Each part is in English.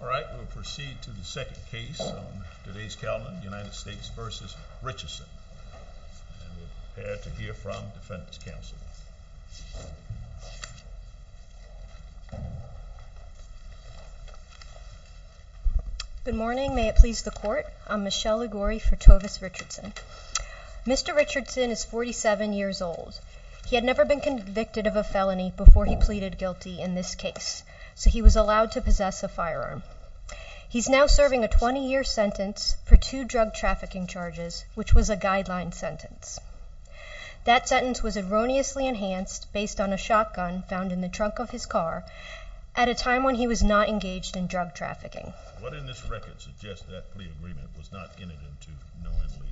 All right, we'll proceed to the second case on today's calendar, United States v. Richardson. And we're prepared to hear from the defense counsel. Good morning, may it please the court. I'm Michelle Liguori for Tovis Richardson. Mr. Richardson is 47 years old. He had never been convicted of a felony before he pleaded guilty in this case, so he was allowed to possess a firearm. He's now serving a 20-year sentence for two drug trafficking charges, which was a guideline sentence. That sentence was erroneously enhanced based on a shotgun found in the trunk of his car at a time when he was not engaged in drug trafficking. What in this record suggests that plea agreement was not entered into knowingly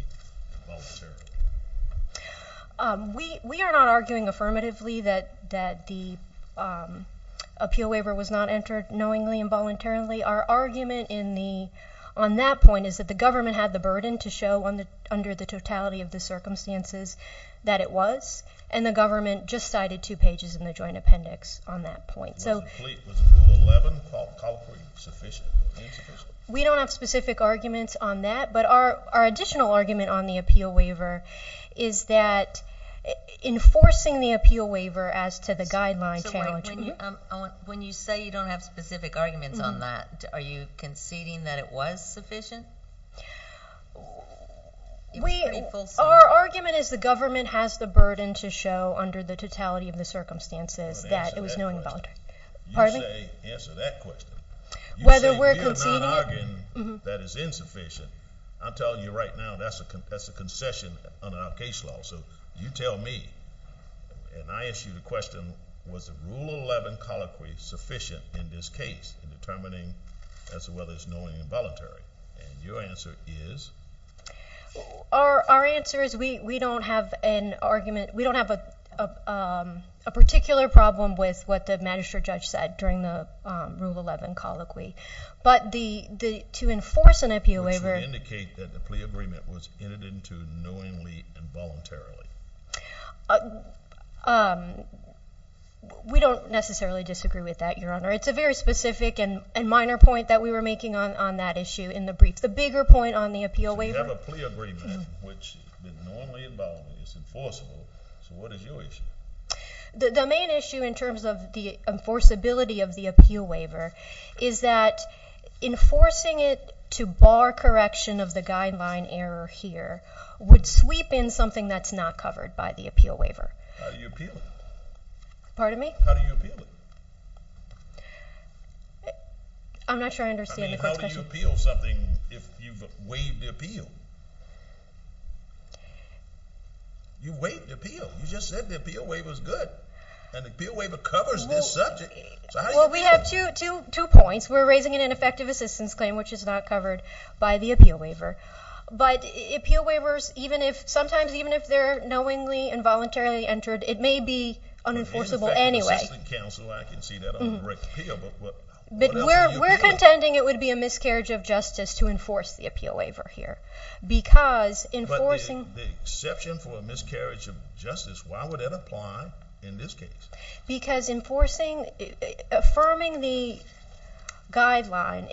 and voluntarily? We are not arguing affirmatively that the appeal waiver was not entered knowingly and voluntarily. Our argument on that point is that the government had the burden to show under the totality of the circumstances that it was, and the government just cited two pages in the joint appendix on that point. Was Rule 11 called sufficient or insufficient? We don't have specific arguments on that, but our additional argument on the appeal waiver is that enforcing the appeal waiver as to the guideline challenge. When you say you don't have specific arguments on that, are you conceding that it was sufficient? Our argument is the government has the burden to show under the totality of the circumstances that it was knowingly and voluntarily. You say answer that question. You say you're not arguing that it's insufficient. I'm telling you right now that's a concession under our case law. So you tell me, and I ask you the question, was the Rule 11 colloquy sufficient in this case in determining as to whether it's knowingly and voluntarily? And your answer is? Our answer is we don't have an argument. We don't have a particular problem with what the magistrate judge said during the Rule 11 colloquy. But to enforce an appeal waiver— Which would indicate that the plea agreement was entered into knowingly and voluntarily. We don't necessarily disagree with that, Your Honor. It's a very specific and minor point that we were making on that issue in the brief. It's the bigger point on the appeal waiver. So you have a plea agreement, which is knowingly and voluntarily. It's enforceable. So what is your issue? The main issue in terms of the enforceability of the appeal waiver is that enforcing it to bar correction of the guideline error here would sweep in something that's not covered by the appeal waiver. How do you appeal it? Pardon me? How do you appeal it? I'm not sure I understand the question. How do you appeal something if you've waived the appeal? You waived the appeal. You just said the appeal waiver's good. And the appeal waiver covers this subject. Well, we have two points. We're raising an ineffective assistance claim, which is not covered by the appeal waiver. But appeal waivers, sometimes even if they're knowingly and voluntarily entered, it may be unenforceable anyway. If you're an effective assistance counsel, I can see that on the direct appeal. But we're contending it would be a miscarriage of justice to enforce the appeal waiver here. But the exception for a miscarriage of justice, why would that apply in this case? Because enforcing, affirming the guideline,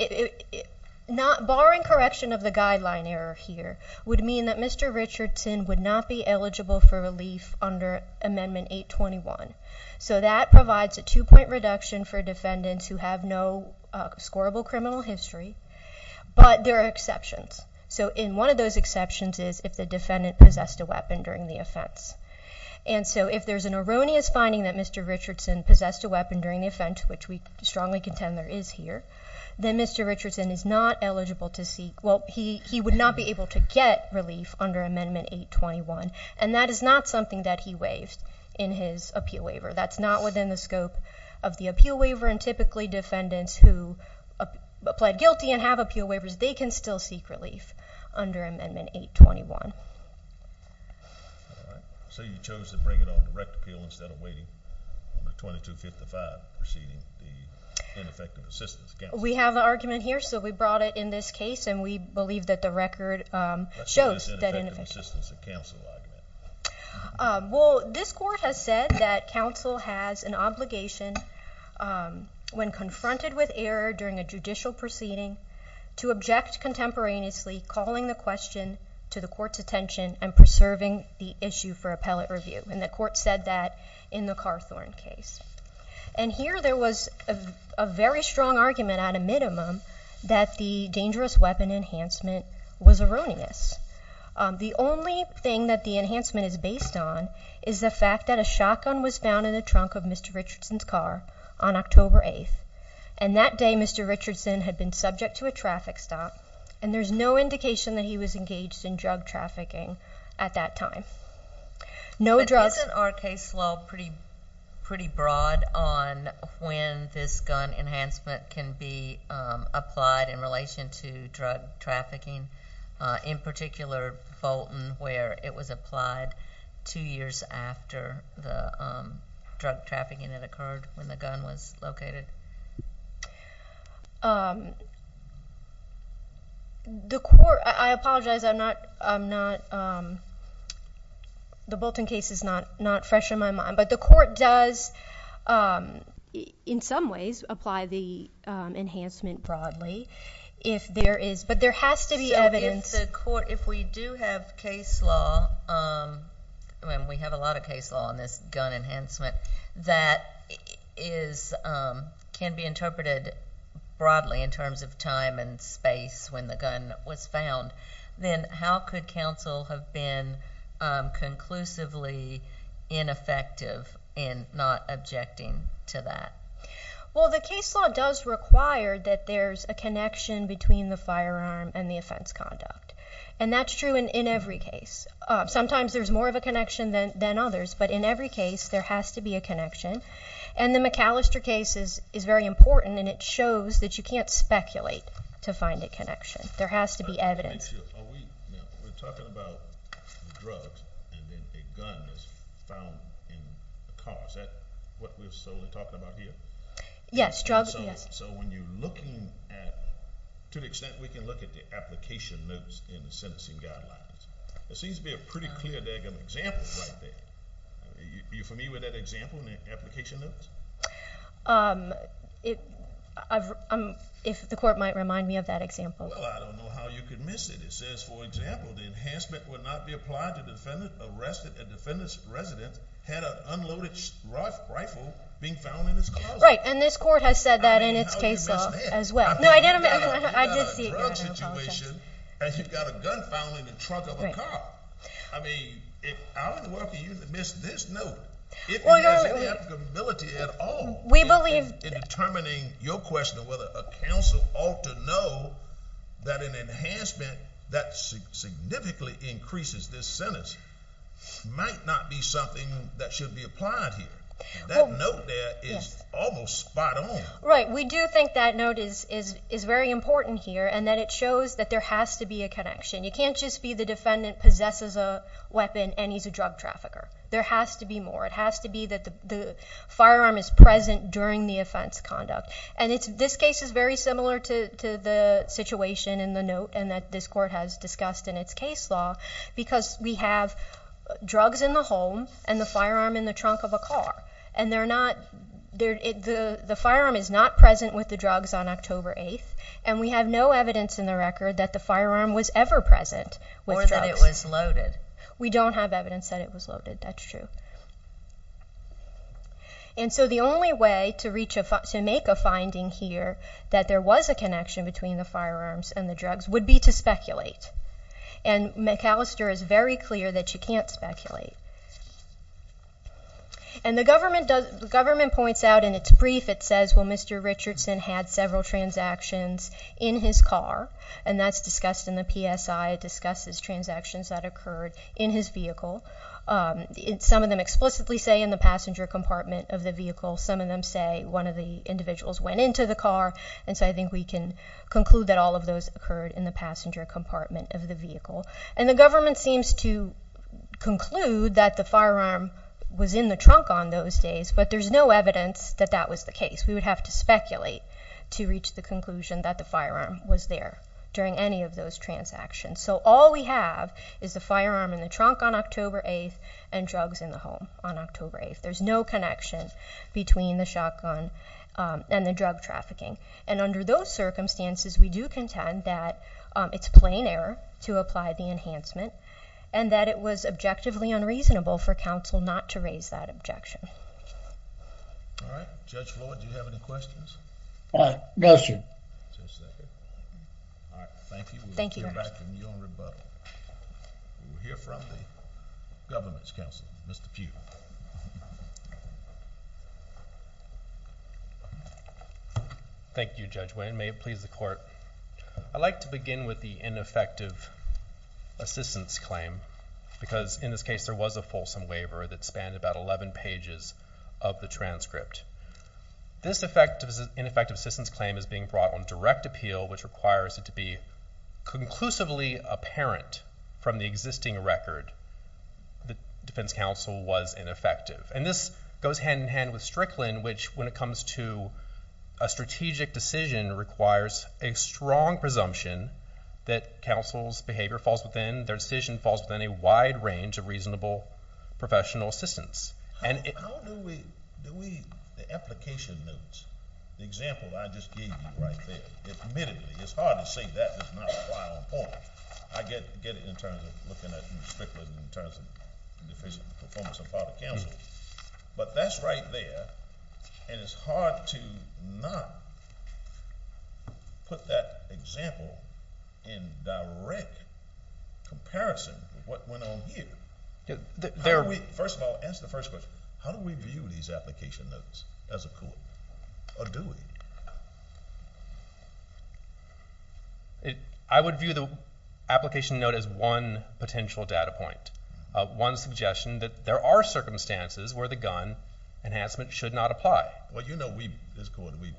barring correction of the guideline error here, would mean that Mr. Richardson would not be eligible for relief under Amendment 821. So that provides a two-point reduction for defendants who have no scorable criminal history. But there are exceptions. So one of those exceptions is if the defendant possessed a weapon during the offense. And so if there's an erroneous finding that Mr. Richardson possessed a weapon during the offense, which we strongly contend there is here, then Mr. Richardson is not eligible to seek, well, he would not be able to get relief under Amendment 821. And that is not something that he waived in his appeal waiver. That's not within the scope of the appeal waiver. And typically defendants who pled guilty and have appeal waivers, they can still seek relief under Amendment 821. All right. So you chose to bring it on direct appeal instead of waiting on the 2255 proceeding, the ineffective assistance counsel? We have an argument here. So we brought it in this case, and we believe that the record shows that ineffective assistance counsel Well, this court has said that counsel has an obligation when confronted with error during a judicial proceeding to object contemporaneously, calling the question to the court's attention and preserving the issue for appellate review. And the court said that in the Carthorne case. And here there was a very strong argument at a minimum that the dangerous weapon enhancement was erroneous. The only thing that the enhancement is based on is the fact that a shotgun was found in the trunk of Mr. Richardson's car on October 8th. And that day Mr. Richardson had been subject to a traffic stop, and there's no indication that he was engaged in drug trafficking at that time. But isn't our case law pretty broad on when this gun enhancement can be applied in relation to drug trafficking, in particular Bolton where it was applied two years after the drug trafficking that occurred when the gun was located? The court, I apologize, I'm not, the Bolton case is not fresh in my mind. But the court does in some ways apply the enhancement broadly. But there has to be evidence. So if we do have case law, and we have a lot of case law on this gun enhancement, that can be interpreted broadly in terms of time and space when the gun was found, then how could counsel have been conclusively ineffective in not objecting to that? Well, the case law does require that there's a connection between the firearm and the offense conduct. And that's true in every case. Sometimes there's more of a connection than others, but in every case there has to be a connection. And the McAllister case is very important, and it shows that you can't speculate to find a connection. There has to be evidence. We're talking about drugs and then a gun is found in a car. Is that what we're solely talking about here? Yes, drugs, yes. So when you're looking at, to the extent we can look at the application notes in the sentencing guidelines, there seems to be a pretty clear example right there. Are you familiar with that example in the application notes? If the court might remind me of that example. Well, I don't know how you can miss it. It says, for example, the enhancement would not be applied to defendant arrested and defendant's resident had an unloaded rifle being found in his car. Right, and this court has said that in its case law as well. No, I did see it. You've got a drug situation and you've got a gun found in the trunk of a car. I mean, how in the world can you miss this note? If there's any applicability at all in determining your question of whether a counsel ought to know that an enhancement that significantly increases this sentence might not be something that should be applied here. That note there is almost spot on. Right, we do think that note is very important here and that it shows that there has to be a connection. You can't just be the defendant possesses a weapon and he's a drug trafficker. There has to be more. It has to be that the firearm is present during the offense conduct. This case is very similar to the situation in the note and that this court has discussed in its case law because we have drugs in the home and the firearm in the trunk of a car. The firearm is not present with the drugs on October 8th and we have no evidence in the record that the firearm was ever present with drugs. Or that it was loaded. We don't have evidence that it was loaded, that's true. And so the only way to make a finding here that there was a connection between the firearms and the drugs would be to speculate. And McAllister is very clear that you can't speculate. And the government points out in its brief, it says, well, Mr. Richardson had several transactions in his car and that's discussed in the PSI. It discusses transactions that occurred in his vehicle. Some of them explicitly say in the passenger compartment of the vehicle. Some of them say one of the individuals went into the car. And so I think we can conclude that all of those occurred in the passenger compartment of the vehicle. And the government seems to conclude that the firearm was in the trunk on those days, but there's no evidence that that was the case. We would have to speculate to reach the conclusion that the firearm was there during any of those transactions. So all we have is the firearm in the trunk on October 8th and drugs in the home on October 8th. There's no connection between the shotgun and the drug trafficking. And under those circumstances, we do contend that it's plain error to apply the enhancement and that it was objectively unreasonable for counsel not to raise that objection. All right. Judge Floyd, do you have any questions? No, sir. All right. Thank you. We'll hear back from you in rebuttal. We'll hear from the Governance Counsel, Mr. Pugh. Thank you, Judge Winn. May it please the Court. I'd like to begin with the ineffective assistance claim because in this case there was a fulsome waiver that spanned about 11 pages of the transcript. This ineffective assistance claim is being brought on direct appeal which requires it to be conclusively apparent from the existing record that defense counsel was ineffective. And this goes hand-in-hand with Strickland, which when it comes to a strategic decision requires a strong presumption that counsel's behavior falls within, their decision falls within a wide range of reasonable professional assistance. How do we, the application notes, the example that I just gave you right there, admittedly it's hard to say that does not apply on point. I get it in terms of looking at Strickland in terms of deficient performance of part of counsel. But that's right there and it's hard to not put that example in direct comparison with what went on here. First of all, answer the first question. How do we view these application notes as a core? Or do we? I would view the application note as one potential data point, one suggestion that there are circumstances where the gun enhancement should not apply. Well, you know, we, as a court, we've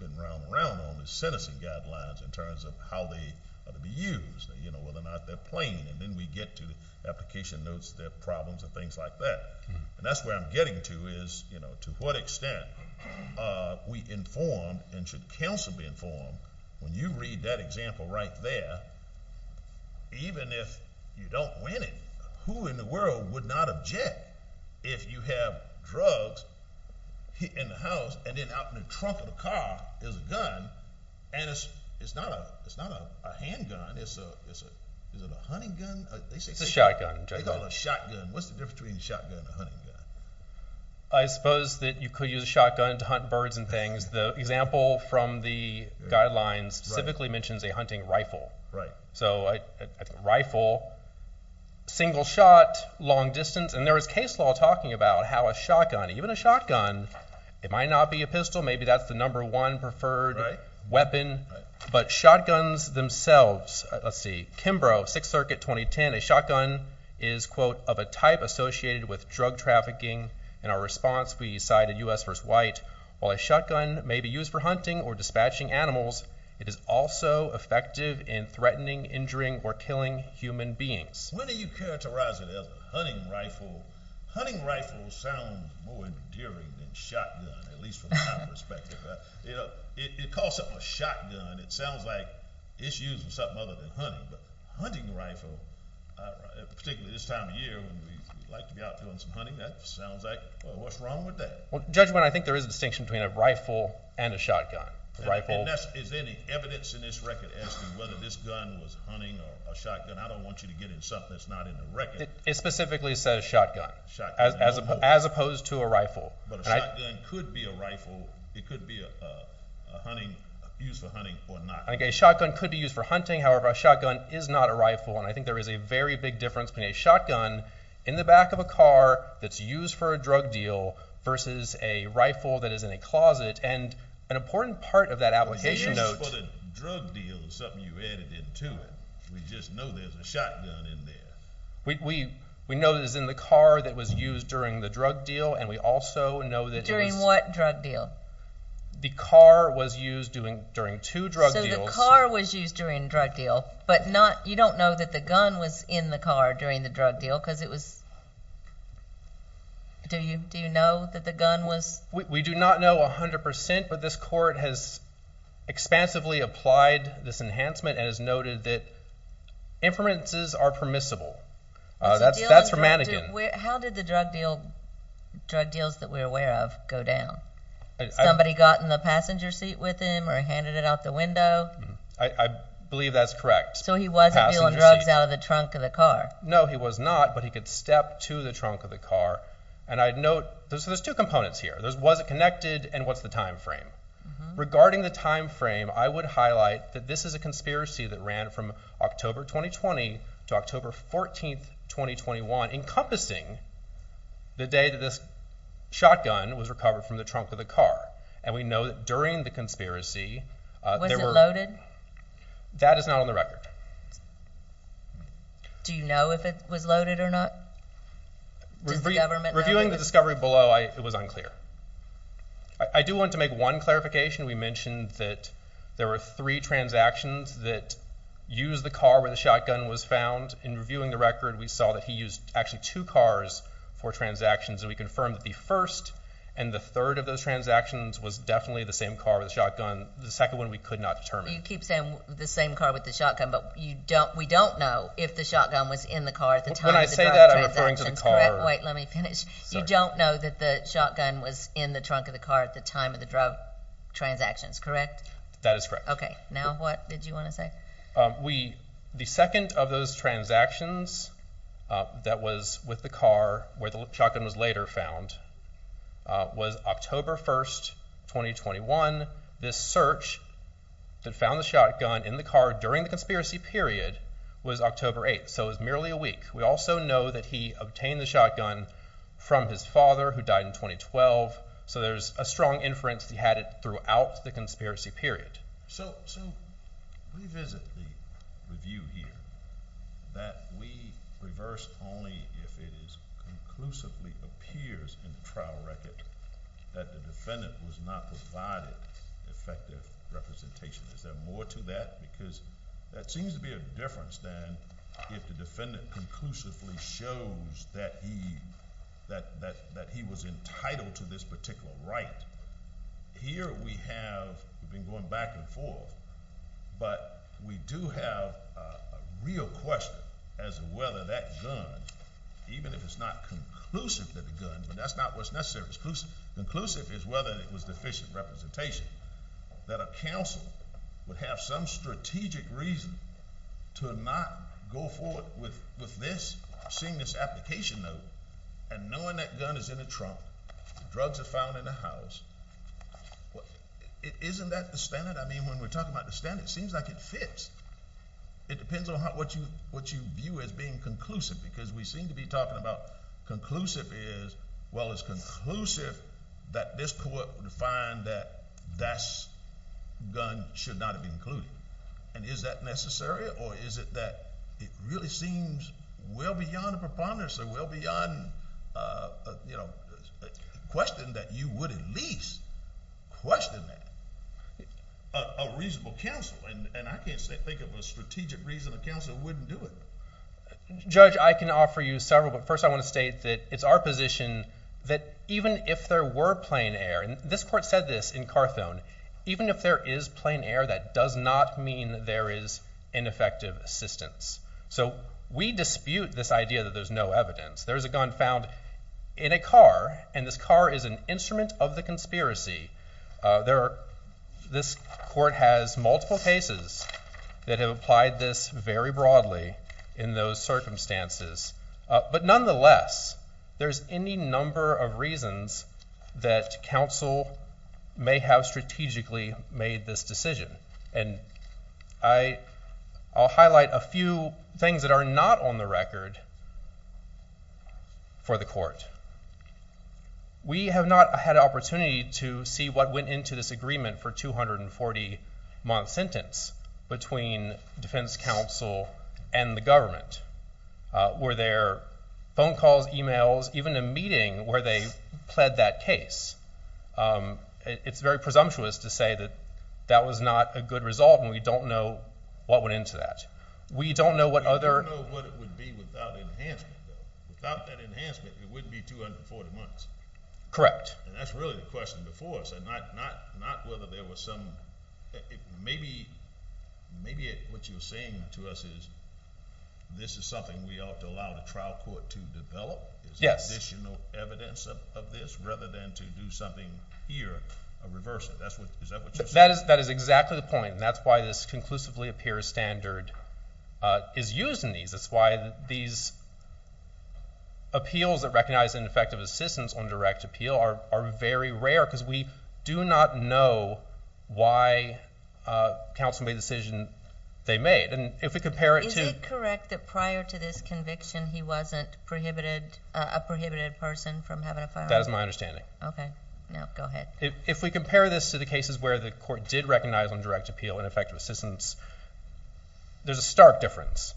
been round and round on the sentencing guidelines in terms of how they ought to be used, whether or not they're plain. And then we get to the application notes, their problems and things like that. And that's where I'm getting to is, you know, to what extent we inform and should counsel be informed. When you read that example right there, even if you don't win it, who in the world would not object if you have drugs in the house and then out in the trunk of the car is a gun and it's not a handgun, it's a hunting gun? It's a shotgun. They call it a shotgun. What's the difference between a shotgun and a hunting gun? I suppose that you could use a shotgun to hunt birds and things. The example from the guidelines specifically mentions a hunting rifle. Right. So a rifle, single shot, long distance. And there is case law talking about how a shotgun, even a shotgun, it might not be a pistol. Maybe that's the number one preferred weapon. Right. But shotguns themselves, let's see, Kimbrough, 6th Circuit, 2010, a shotgun is, quote, of a type associated with drug trafficking. In our response, we cited U.S. v. White. While a shotgun may be used for hunting or dispatching animals, it is also effective in threatening, injuring, or killing human beings. When do you characterize it as a hunting rifle? Hunting rifles sound more endearing than shotgun, at least from my perspective. It calls something a shotgun. It sounds like it's used for something other than hunting. But hunting rifle, particularly this time of year when we like to be out doing some hunting, that sounds like, well, what's wrong with that? Judgment, I think there is a distinction between a rifle and a shotgun. And is there any evidence in this record asking whether this gun was hunting or a shotgun? I don't want you to get in something that's not in the record. It specifically says shotgun as opposed to a rifle. But a shotgun could be a rifle. It could be used for hunting or not. I think a shotgun could be used for hunting. However, a shotgun is not a rifle. And I think there is a very big difference between a shotgun in the back of a car that's used for a drug deal versus a rifle that is in a closet. And an important part of that application note – It's used for the drug deal. It's something you've added into it. We just know there's a shotgun in there. We know that it's in the car that was used during the drug deal, and we also know that it was – During what drug deal? The car was used during two drug deals. So the car was used during the drug deal, but you don't know that the gun was in the car during the drug deal because it was – do you know that the gun was – We do not know 100%, but this court has expansively applied this enhancement and has noted that inferences are permissible. That's from Mannegan. How did the drug deals that we're aware of go down? Somebody got in the passenger seat with him or handed it out the window? I believe that's correct. So he wasn't dealing drugs out of the trunk of the car? No, he was not, but he could step to the trunk of the car. And I'd note – so there's two components here. Was it connected, and what's the timeframe? Regarding the timeframe, I would highlight that this is a conspiracy that ran from October 2020 to October 14, 2021, encompassing the day that this shotgun was recovered from the trunk of the car. And we know that during the conspiracy there were – That is not on the record. Do you know if it was loaded or not? Does the government know? Reviewing the discovery below, it was unclear. I do want to make one clarification. We mentioned that there were three transactions that used the car where the shotgun was found. In reviewing the record, we saw that he used actually two cars for transactions, and we confirmed that the first and the third of those transactions was definitely the same car with the shotgun. The second one we could not determine. You keep saying the same car with the shotgun, but we don't know if the shotgun was in the car at the time of the drug transactions, correct? When I say that, I'm referring to the car. Wait, let me finish. You don't know that the shotgun was in the trunk of the car at the time of the drug transactions, correct? That is correct. Okay, now what did you want to say? The second of those transactions that was with the car where the shotgun was later found was October 1, 2021. This search that found the shotgun in the car during the conspiracy period was October 8, so it was merely a week. We also know that he obtained the shotgun from his father who died in 2012, so there's a strong inference that he had it throughout the conspiracy period. So revisit the view here that we reverse only if it conclusively appears in the trial record that the defendant was not provided effective representation. Is there more to that? Because that seems to be a difference than if the defendant conclusively shows that he was entitled to this particular right. Here we have been going back and forth, but we do have a real question as to whether that gun, even if it's not conclusive that the gun, but that's not what's necessary. Conclusive is whether it was deficient representation, that a counsel would have some strategic reason to not go forward with seeing this application note and knowing that gun is in the trunk, drugs are found in the house. Isn't that the standard? I mean, when we're talking about the standard, it seems like it fits. It depends on what you view as being conclusive because we seem to be talking about conclusive is, well, it's conclusive that this court would find that that gun should not have been included. And is that necessary or is it that it really seems well beyond a preponderance or well beyond a question that you would at least question that? A reasonable counsel, and I can't think of a strategic reason a counsel wouldn't do it. Judge, I can offer you several, but first I want to state that it's our position that even if there were plain air, and this court said this in Carthone, even if there is plain air, that does not mean that there is ineffective assistance. So we dispute this idea that there's no evidence. There's a gun found in a car, and this car is an instrument of the conspiracy. This court has multiple cases that have applied this very broadly in those circumstances. But nonetheless, there's any number of reasons that counsel may have strategically made this decision. And I'll highlight a few things that are not on the record for the court. We have not had an opportunity to see what went into this agreement for a 240-month sentence between defense counsel and the government. Were there phone calls, emails, even a meeting where they pled that case? It's very presumptuous to say that that was not a good result, and we don't know what went into that. We don't know what other – We don't know what it would be without enhancement. Without that enhancement, it wouldn't be 240 months. Correct. And that's really the question before us, and not whether there was some – maybe what you're saying to us is this is something we ought to allow the trial court to develop as additional evidence of this rather than to do something here or reverse it. Is that what you're saying? That is exactly the point, and that's why this conclusively appears standard is used in these. That's why these appeals that recognize ineffective assistance on direct appeal are very rare because we do not know why counsel made the decision they made. And if we compare it to – Is it correct that prior to this conviction, he wasn't a prohibited person from having a firearm? That is my understanding. Okay. No, go ahead. If we compare this to the cases where the court did recognize on direct appeal ineffective assistance, there's a stark difference.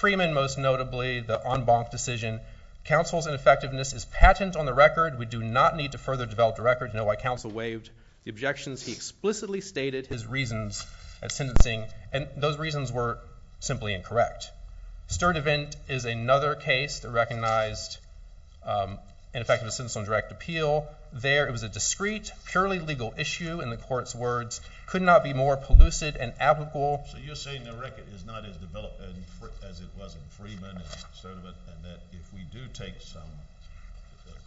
Freeman, most notably, the en banc decision. Counsel's ineffectiveness is patent on the record. We do not need to further develop the record to know why counsel waived the objections. He explicitly stated his reasons at sentencing, and those reasons were simply incorrect. Sturdivant is another case that recognized ineffective assistance on direct appeal. There it was a discreet, purely legal issue in the court's words. It could not be more pellucid and applicable. So you're saying the record is not as developed as it was in Freeman and Sturdivant and that if we do take some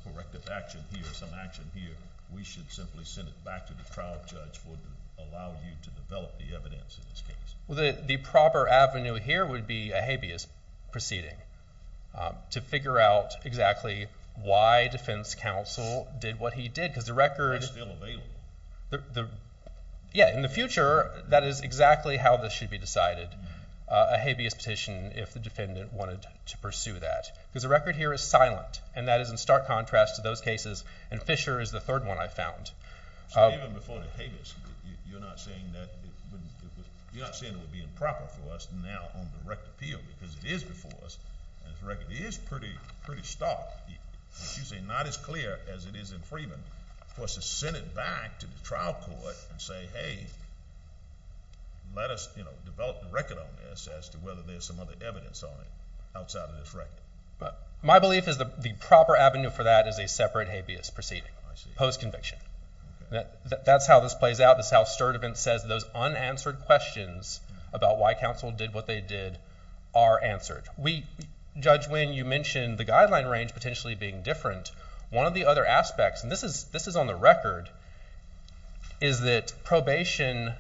corrective action here, some action here, we should simply send it back to the trial judge for allowing you to develop the evidence in this case? Well, the proper avenue here would be a habeas proceeding to figure out exactly why defense counsel did what he did because the record— That's still available. Yeah. In the future, that is exactly how this should be decided, a habeas petition if the defendant wanted to pursue that because the record here is silent, and that is in stark contrast to those cases, and Fisher is the third one I found. Even before the habeas, you're not saying it would be improper for us now on direct appeal because it is before us, and the record is pretty stark. You're saying not as clear as it is in Freeman for us to send it back to the trial court and say, hey, let us develop the record on this as to whether there's some other evidence on it outside of this record. My belief is the proper avenue for that is a separate habeas proceeding post-conviction. That's how this plays out. That's how Sturdivant says those unanswered questions about why counsel did what they did are answered. Judge Nguyen, you mentioned the guideline range potentially being different. One of the other aspects, and this is on the record, is that probation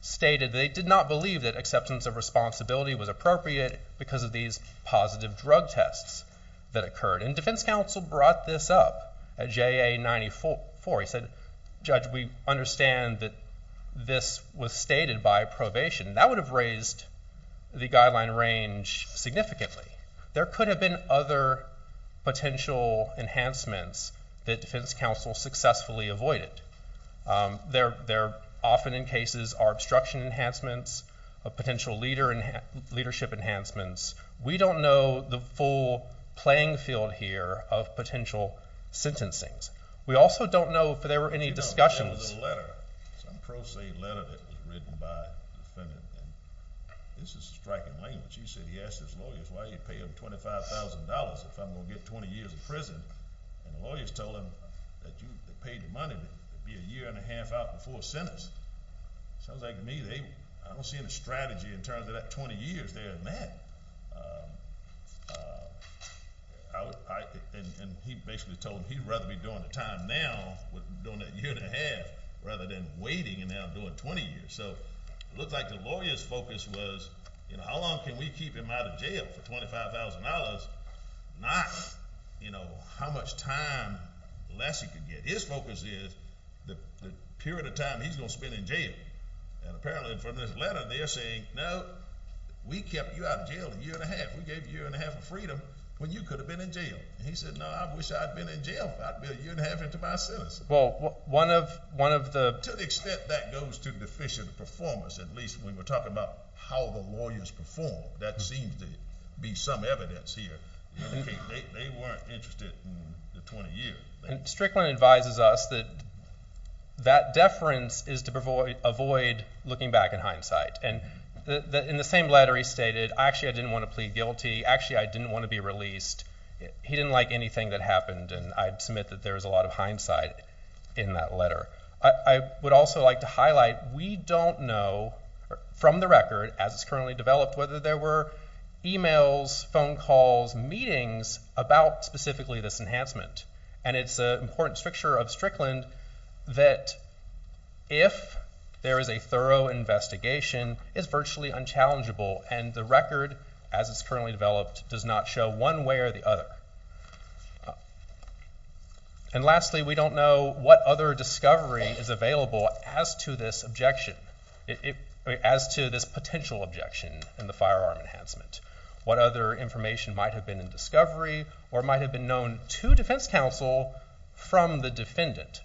stated they did not believe that acceptance of responsibility was appropriate because of these positive drug tests that occurred, and defense counsel brought this up at JA94. He said, Judge, we understand that this was stated by probation. That would have raised the guideline range significantly. There could have been other potential enhancements that defense counsel successfully avoided. There often in cases are obstruction enhancements, potential leadership enhancements. We don't know the full playing field here of potential sentencing. We also don't know if there were any discussions. There was a letter, some pro se letter that was written by a defendant. This is striking language. He said he asked his lawyers, why do you pay them $25,000 if I'm going to get 20 years in prison? The lawyers told him that you paid the money to be a year and a half out before sentence. Sounds like to me, I don't see any strategy in terms of that 20 years there. And he basically told them he'd rather be doing the time now, doing that year and a half, rather than waiting and now doing 20 years. So it looked like the lawyer's focus was, you know, how long can we keep him out of jail for $25,000, not, you know, how much time Lessie could get. His focus is the period of time he's going to spend in jail. And apparently from this letter they're saying, no, we kept you out of jail a year and a half. We gave you a year and a half of freedom when you could have been in jail. And he said, no, I wish I'd been in jail. I'd be a year and a half into my sentence. Well, one of the – To the extent that goes to deficient performance, at least when we're talking about how the lawyers perform, that seems to be some evidence here. They weren't interested in the 20 years. Strickland advises us that that deference is to avoid looking back in hindsight. And in the same letter he stated, actually, I didn't want to plead guilty. Actually, I didn't want to be released. He didn't like anything that happened, and I'd submit that there was a lot of hindsight in that letter. I would also like to highlight we don't know from the record, as it's currently developed, whether there were emails, phone calls, meetings about specifically this enhancement. And it's an important structure of Strickland that if there is a thorough investigation, it's virtually unchallengeable, and the record, as it's currently developed, does not show one way or the other. And lastly, we don't know what other discovery is available as to this objection, as to this potential objection in the firearm enhancement. What other information might have been in discovery, or might have been known to defense counsel from the defendant.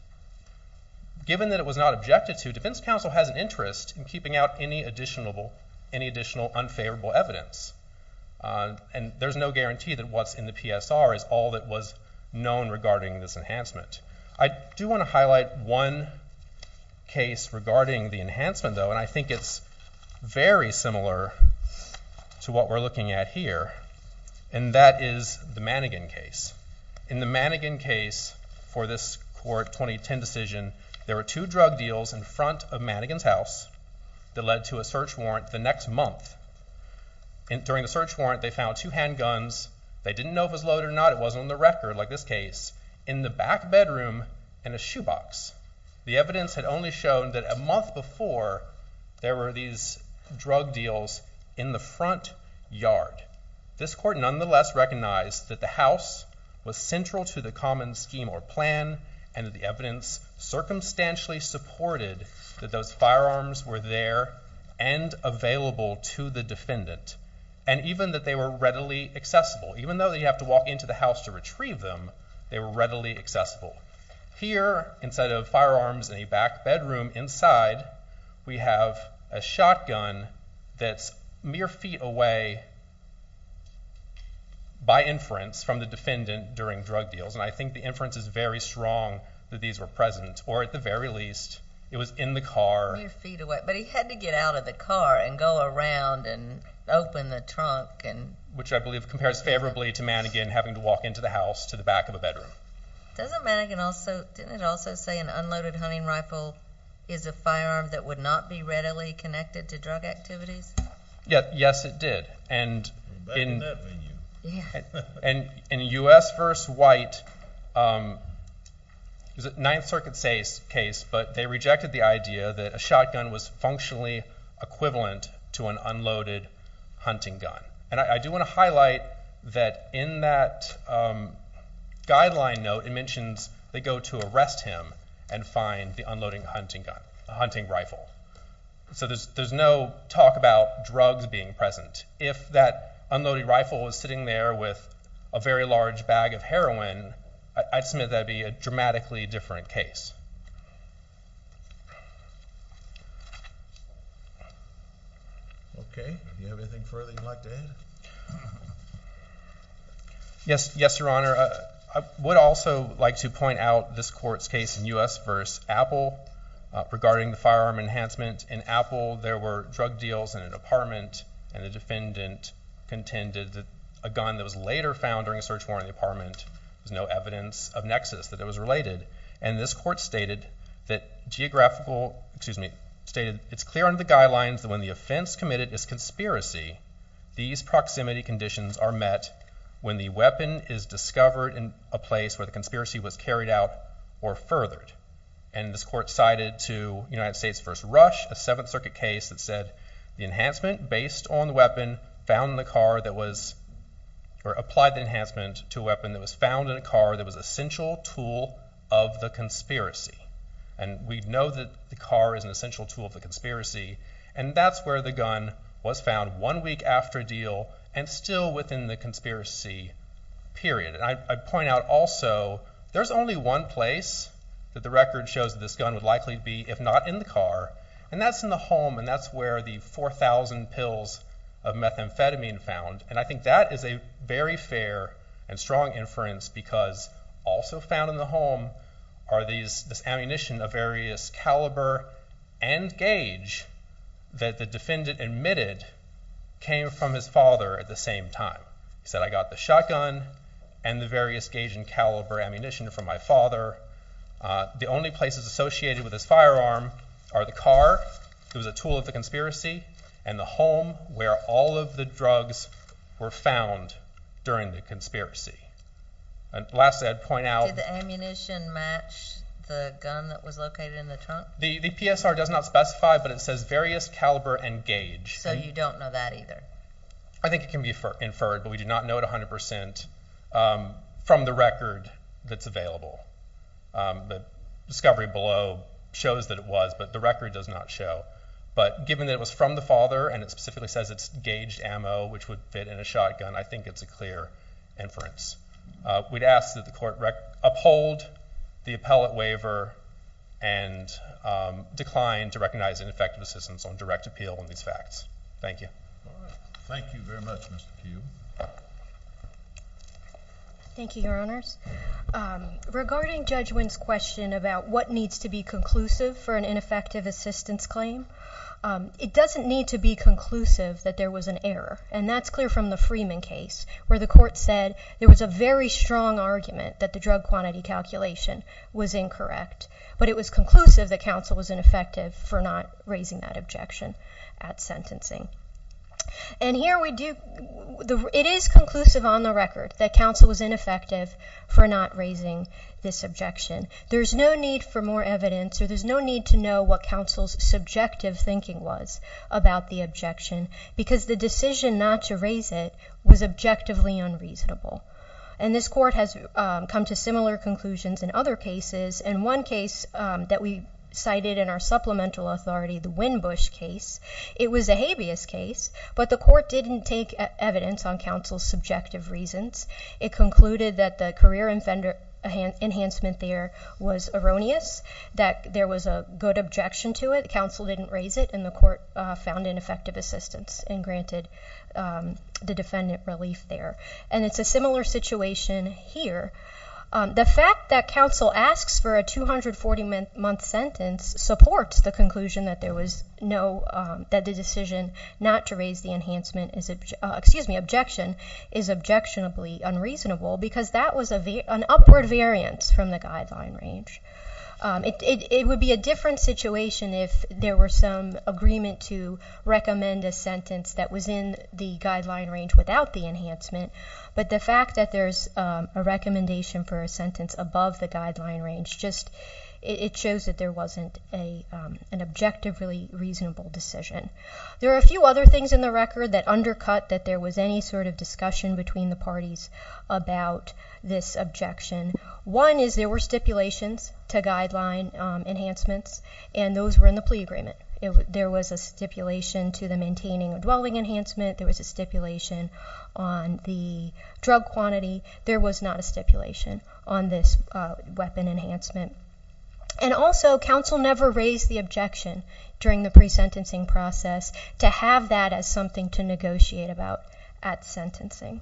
Given that it was not objected to, defense counsel has an interest in keeping out any additional unfavorable evidence. And there's no guarantee that what's in the PSR is all that was known regarding this enhancement. I do want to highlight one case regarding the enhancement, though, and I think it's very similar to what we're looking at here. And that is the Mannegan case. In the Mannegan case for this court 2010 decision, there were two drug deals in front of Mannegan's house that led to a search warrant the next month. During the search warrant, they found two handguns. They didn't know if it was loaded or not. It wasn't on the record, like this case. In the back bedroom, in a shoebox. The evidence had only shown that a month before, there were these drug deals in the front yard. This court nonetheless recognized that the house was central to the common scheme or plan, and the evidence circumstantially supported that those firearms were there and available to the defendant. And even that they were readily accessible. Even though they have to walk into the house to retrieve them, they were readily accessible. Here, instead of firearms in the back bedroom, inside we have a shotgun that's mere feet away by inference from the defendant during drug deals, and I think the inference is very strong that these were present. Or at the very least, it was in the car. Mere feet away, but he had to get out of the car and go around and open the trunk. Which I believe compares favorably to Mannigan having to walk into the house to the back of a bedroom. Didn't it also say an unloaded hunting rifle is a firearm that would not be readily connected to drug activities? Yes, it did. Back in that venue. In U.S. v. White, it was a Ninth Circuit case, but they rejected the idea that a shotgun was functionally equivalent to an unloaded hunting gun. And I do want to highlight that in that guideline note, it mentions they go to arrest him and find the unloading hunting rifle. So there's no talk about drugs being present. If that unloaded rifle was sitting there with a very large bag of heroin, I'd submit that would be a dramatically different case. Yes, Your Honor. I would also like to point out this court's case in U.S. v. Apple, regarding the firearm enhancement in Apple. In Apple, there were drug deals in an apartment, and a defendant contended that a gun that was later found during a search warrant in the apartment was no evidence of nexus, that it was related. And this court stated that it's clear under the guidelines that when the offense committed is conspiracy, these proximity conditions are met when the weapon is discovered in a place where the conspiracy was carried out or furthered. And this court cited to United States v. Rush, a Seventh Circuit case that said the enhancement based on the weapon found in the car that was, or applied the enhancement to a weapon that was found in a car that was an essential tool of the conspiracy. And we know that the car is an essential tool of the conspiracy, and that's where the gun was found one week after a deal, and still within the conspiracy period. And I point out also, there's only one place that the record shows that this gun would likely be, if not in the car, and that's in the home, and that's where the 4,000 pills of methamphetamine found. And I think that is a very fair and strong inference, because also found in the home are this ammunition of various caliber and gauge that the defendant admitted came from his father at the same time. He said, I got the shotgun and the various gauge and caliber ammunition from my father. The only places associated with his firearm are the car, it was a tool of the conspiracy, and the home where all of the drugs were found during the conspiracy. And lastly, I'd point out... Did the ammunition match the gun that was located in the trunk? The PSR does not specify, but it says various caliber and gauge. So you don't know that either? I think it can be inferred, but we do not know it 100% from the record that's available. The discovery below shows that it was, but the record does not show. But given that it was from the father, and it specifically says it's gauged ammo, which would fit in a shotgun, I think it's a clear inference. We'd ask that the court uphold the appellate waiver and decline to recognize ineffective assistance on direct appeal on these facts. Thank you. Thank you very much, Mr. Kueh. Thank you, Your Honors. Regarding Judge Wynn's question about what needs to be conclusive for an ineffective assistance claim, it doesn't need to be conclusive that there was an error, and that's clear from the Freeman case where the court said there was a very strong argument that the drug quantity calculation was incorrect, but it was conclusive that counsel was ineffective for not raising that objection at sentencing. And here we do, it is conclusive on the record that counsel was ineffective for not raising this objection. There's no need for more evidence, or there's no need to know what counsel's subjective thinking was about the objection, because the decision not to raise it was objectively unreasonable. And this court has come to similar conclusions in other cases, and one case that we cited in our supplemental authority, the Wynn-Busch case. It was a habeas case, but the court didn't take evidence on counsel's subjective reasons. It concluded that the career enhancement there was erroneous, that there was a good objection to it. Counsel didn't raise it, and the court found ineffective assistance and granted the defendant relief there. And it's a similar situation here. The fact that counsel asks for a 240-month sentence supports the conclusion that the decision not to raise the enhancement, excuse me, objection, is objectionably unreasonable, because that was an upward variance from the guideline range. It would be a different situation if there were some agreement to recommend a sentence that was in the guideline range without the enhancement, but the fact that there's a recommendation for a sentence above the guideline range, it shows that there wasn't an objectively reasonable decision. There are a few other things in the record that undercut that there was any sort of discussion between the parties about this objection. One is there were stipulations to guideline enhancements, and those were in the plea agreement. There was a stipulation to the maintaining of dwelling enhancement. There was a stipulation on the drug quantity. There was not a stipulation on this weapon enhancement. And also, counsel never raised the objection during the pre-sentencing process to have that as something to negotiate about at sentencing.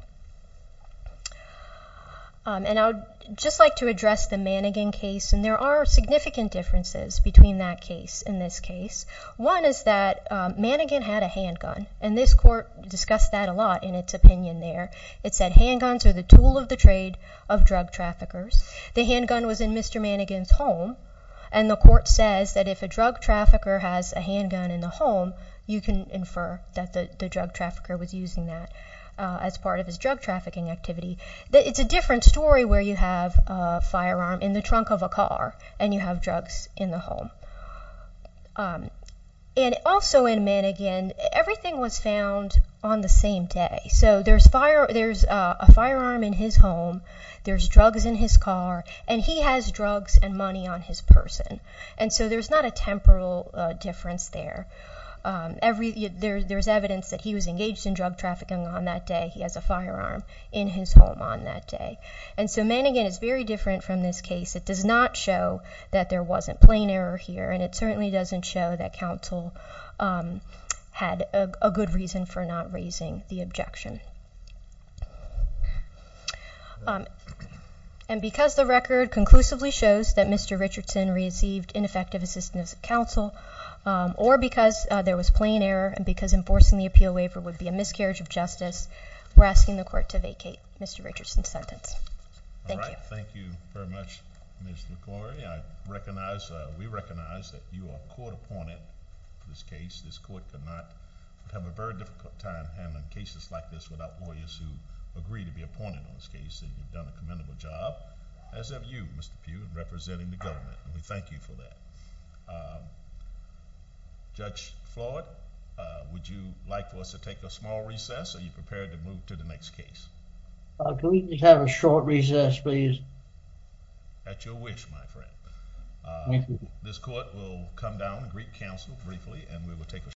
And I would just like to address the Mannegan case, and there are significant differences between that case and this case. One is that Mannegan had a handgun, and this court discussed that a lot in its opinion there. It said handguns are the tool of the trade of drug traffickers. The handgun was in Mr. Mannegan's home, and the court says that if a drug trafficker has a handgun in the home, you can infer that the drug trafficker was using that as part of his drug trafficking activity. It's a different story where you have a firearm in the trunk of a car and you have drugs in the home. And also in Mannegan, everything was found on the same day. So there's a firearm in his home, there's drugs in his car, and he has drugs and money on his person. And so there's not a temporal difference there. There's evidence that he was engaged in drug trafficking on that day. He has a firearm in his home on that day. And so Mannegan is very different from this case. It does not show that there wasn't plain error here, and it certainly doesn't show that counsel had a good reason for not raising the objection. And because the record conclusively shows that Mr. Richardson received ineffective assistance of counsel, or because there was plain error and because enforcing the appeal waiver would be a miscarriage of justice, we're asking the court to vacate Mr. Richardson's sentence. Thank you. Thank you very much, Ms. LaGloria. We recognize that you are a court-appointed in this case. This court could not have a very difficult time handling cases like this without lawyers who agree to be appointed in this case. And you've done a commendable job, as have you, Mr. Pugh, in representing the government, and we thank you for that. Judge Floyd, would you like for us to take a small recess, or are you prepared to move to the next case? Could we just have a short recess, please? At your wish, my friend. Thank you. This court will come down and greet counsel briefly, and we will take a short recess.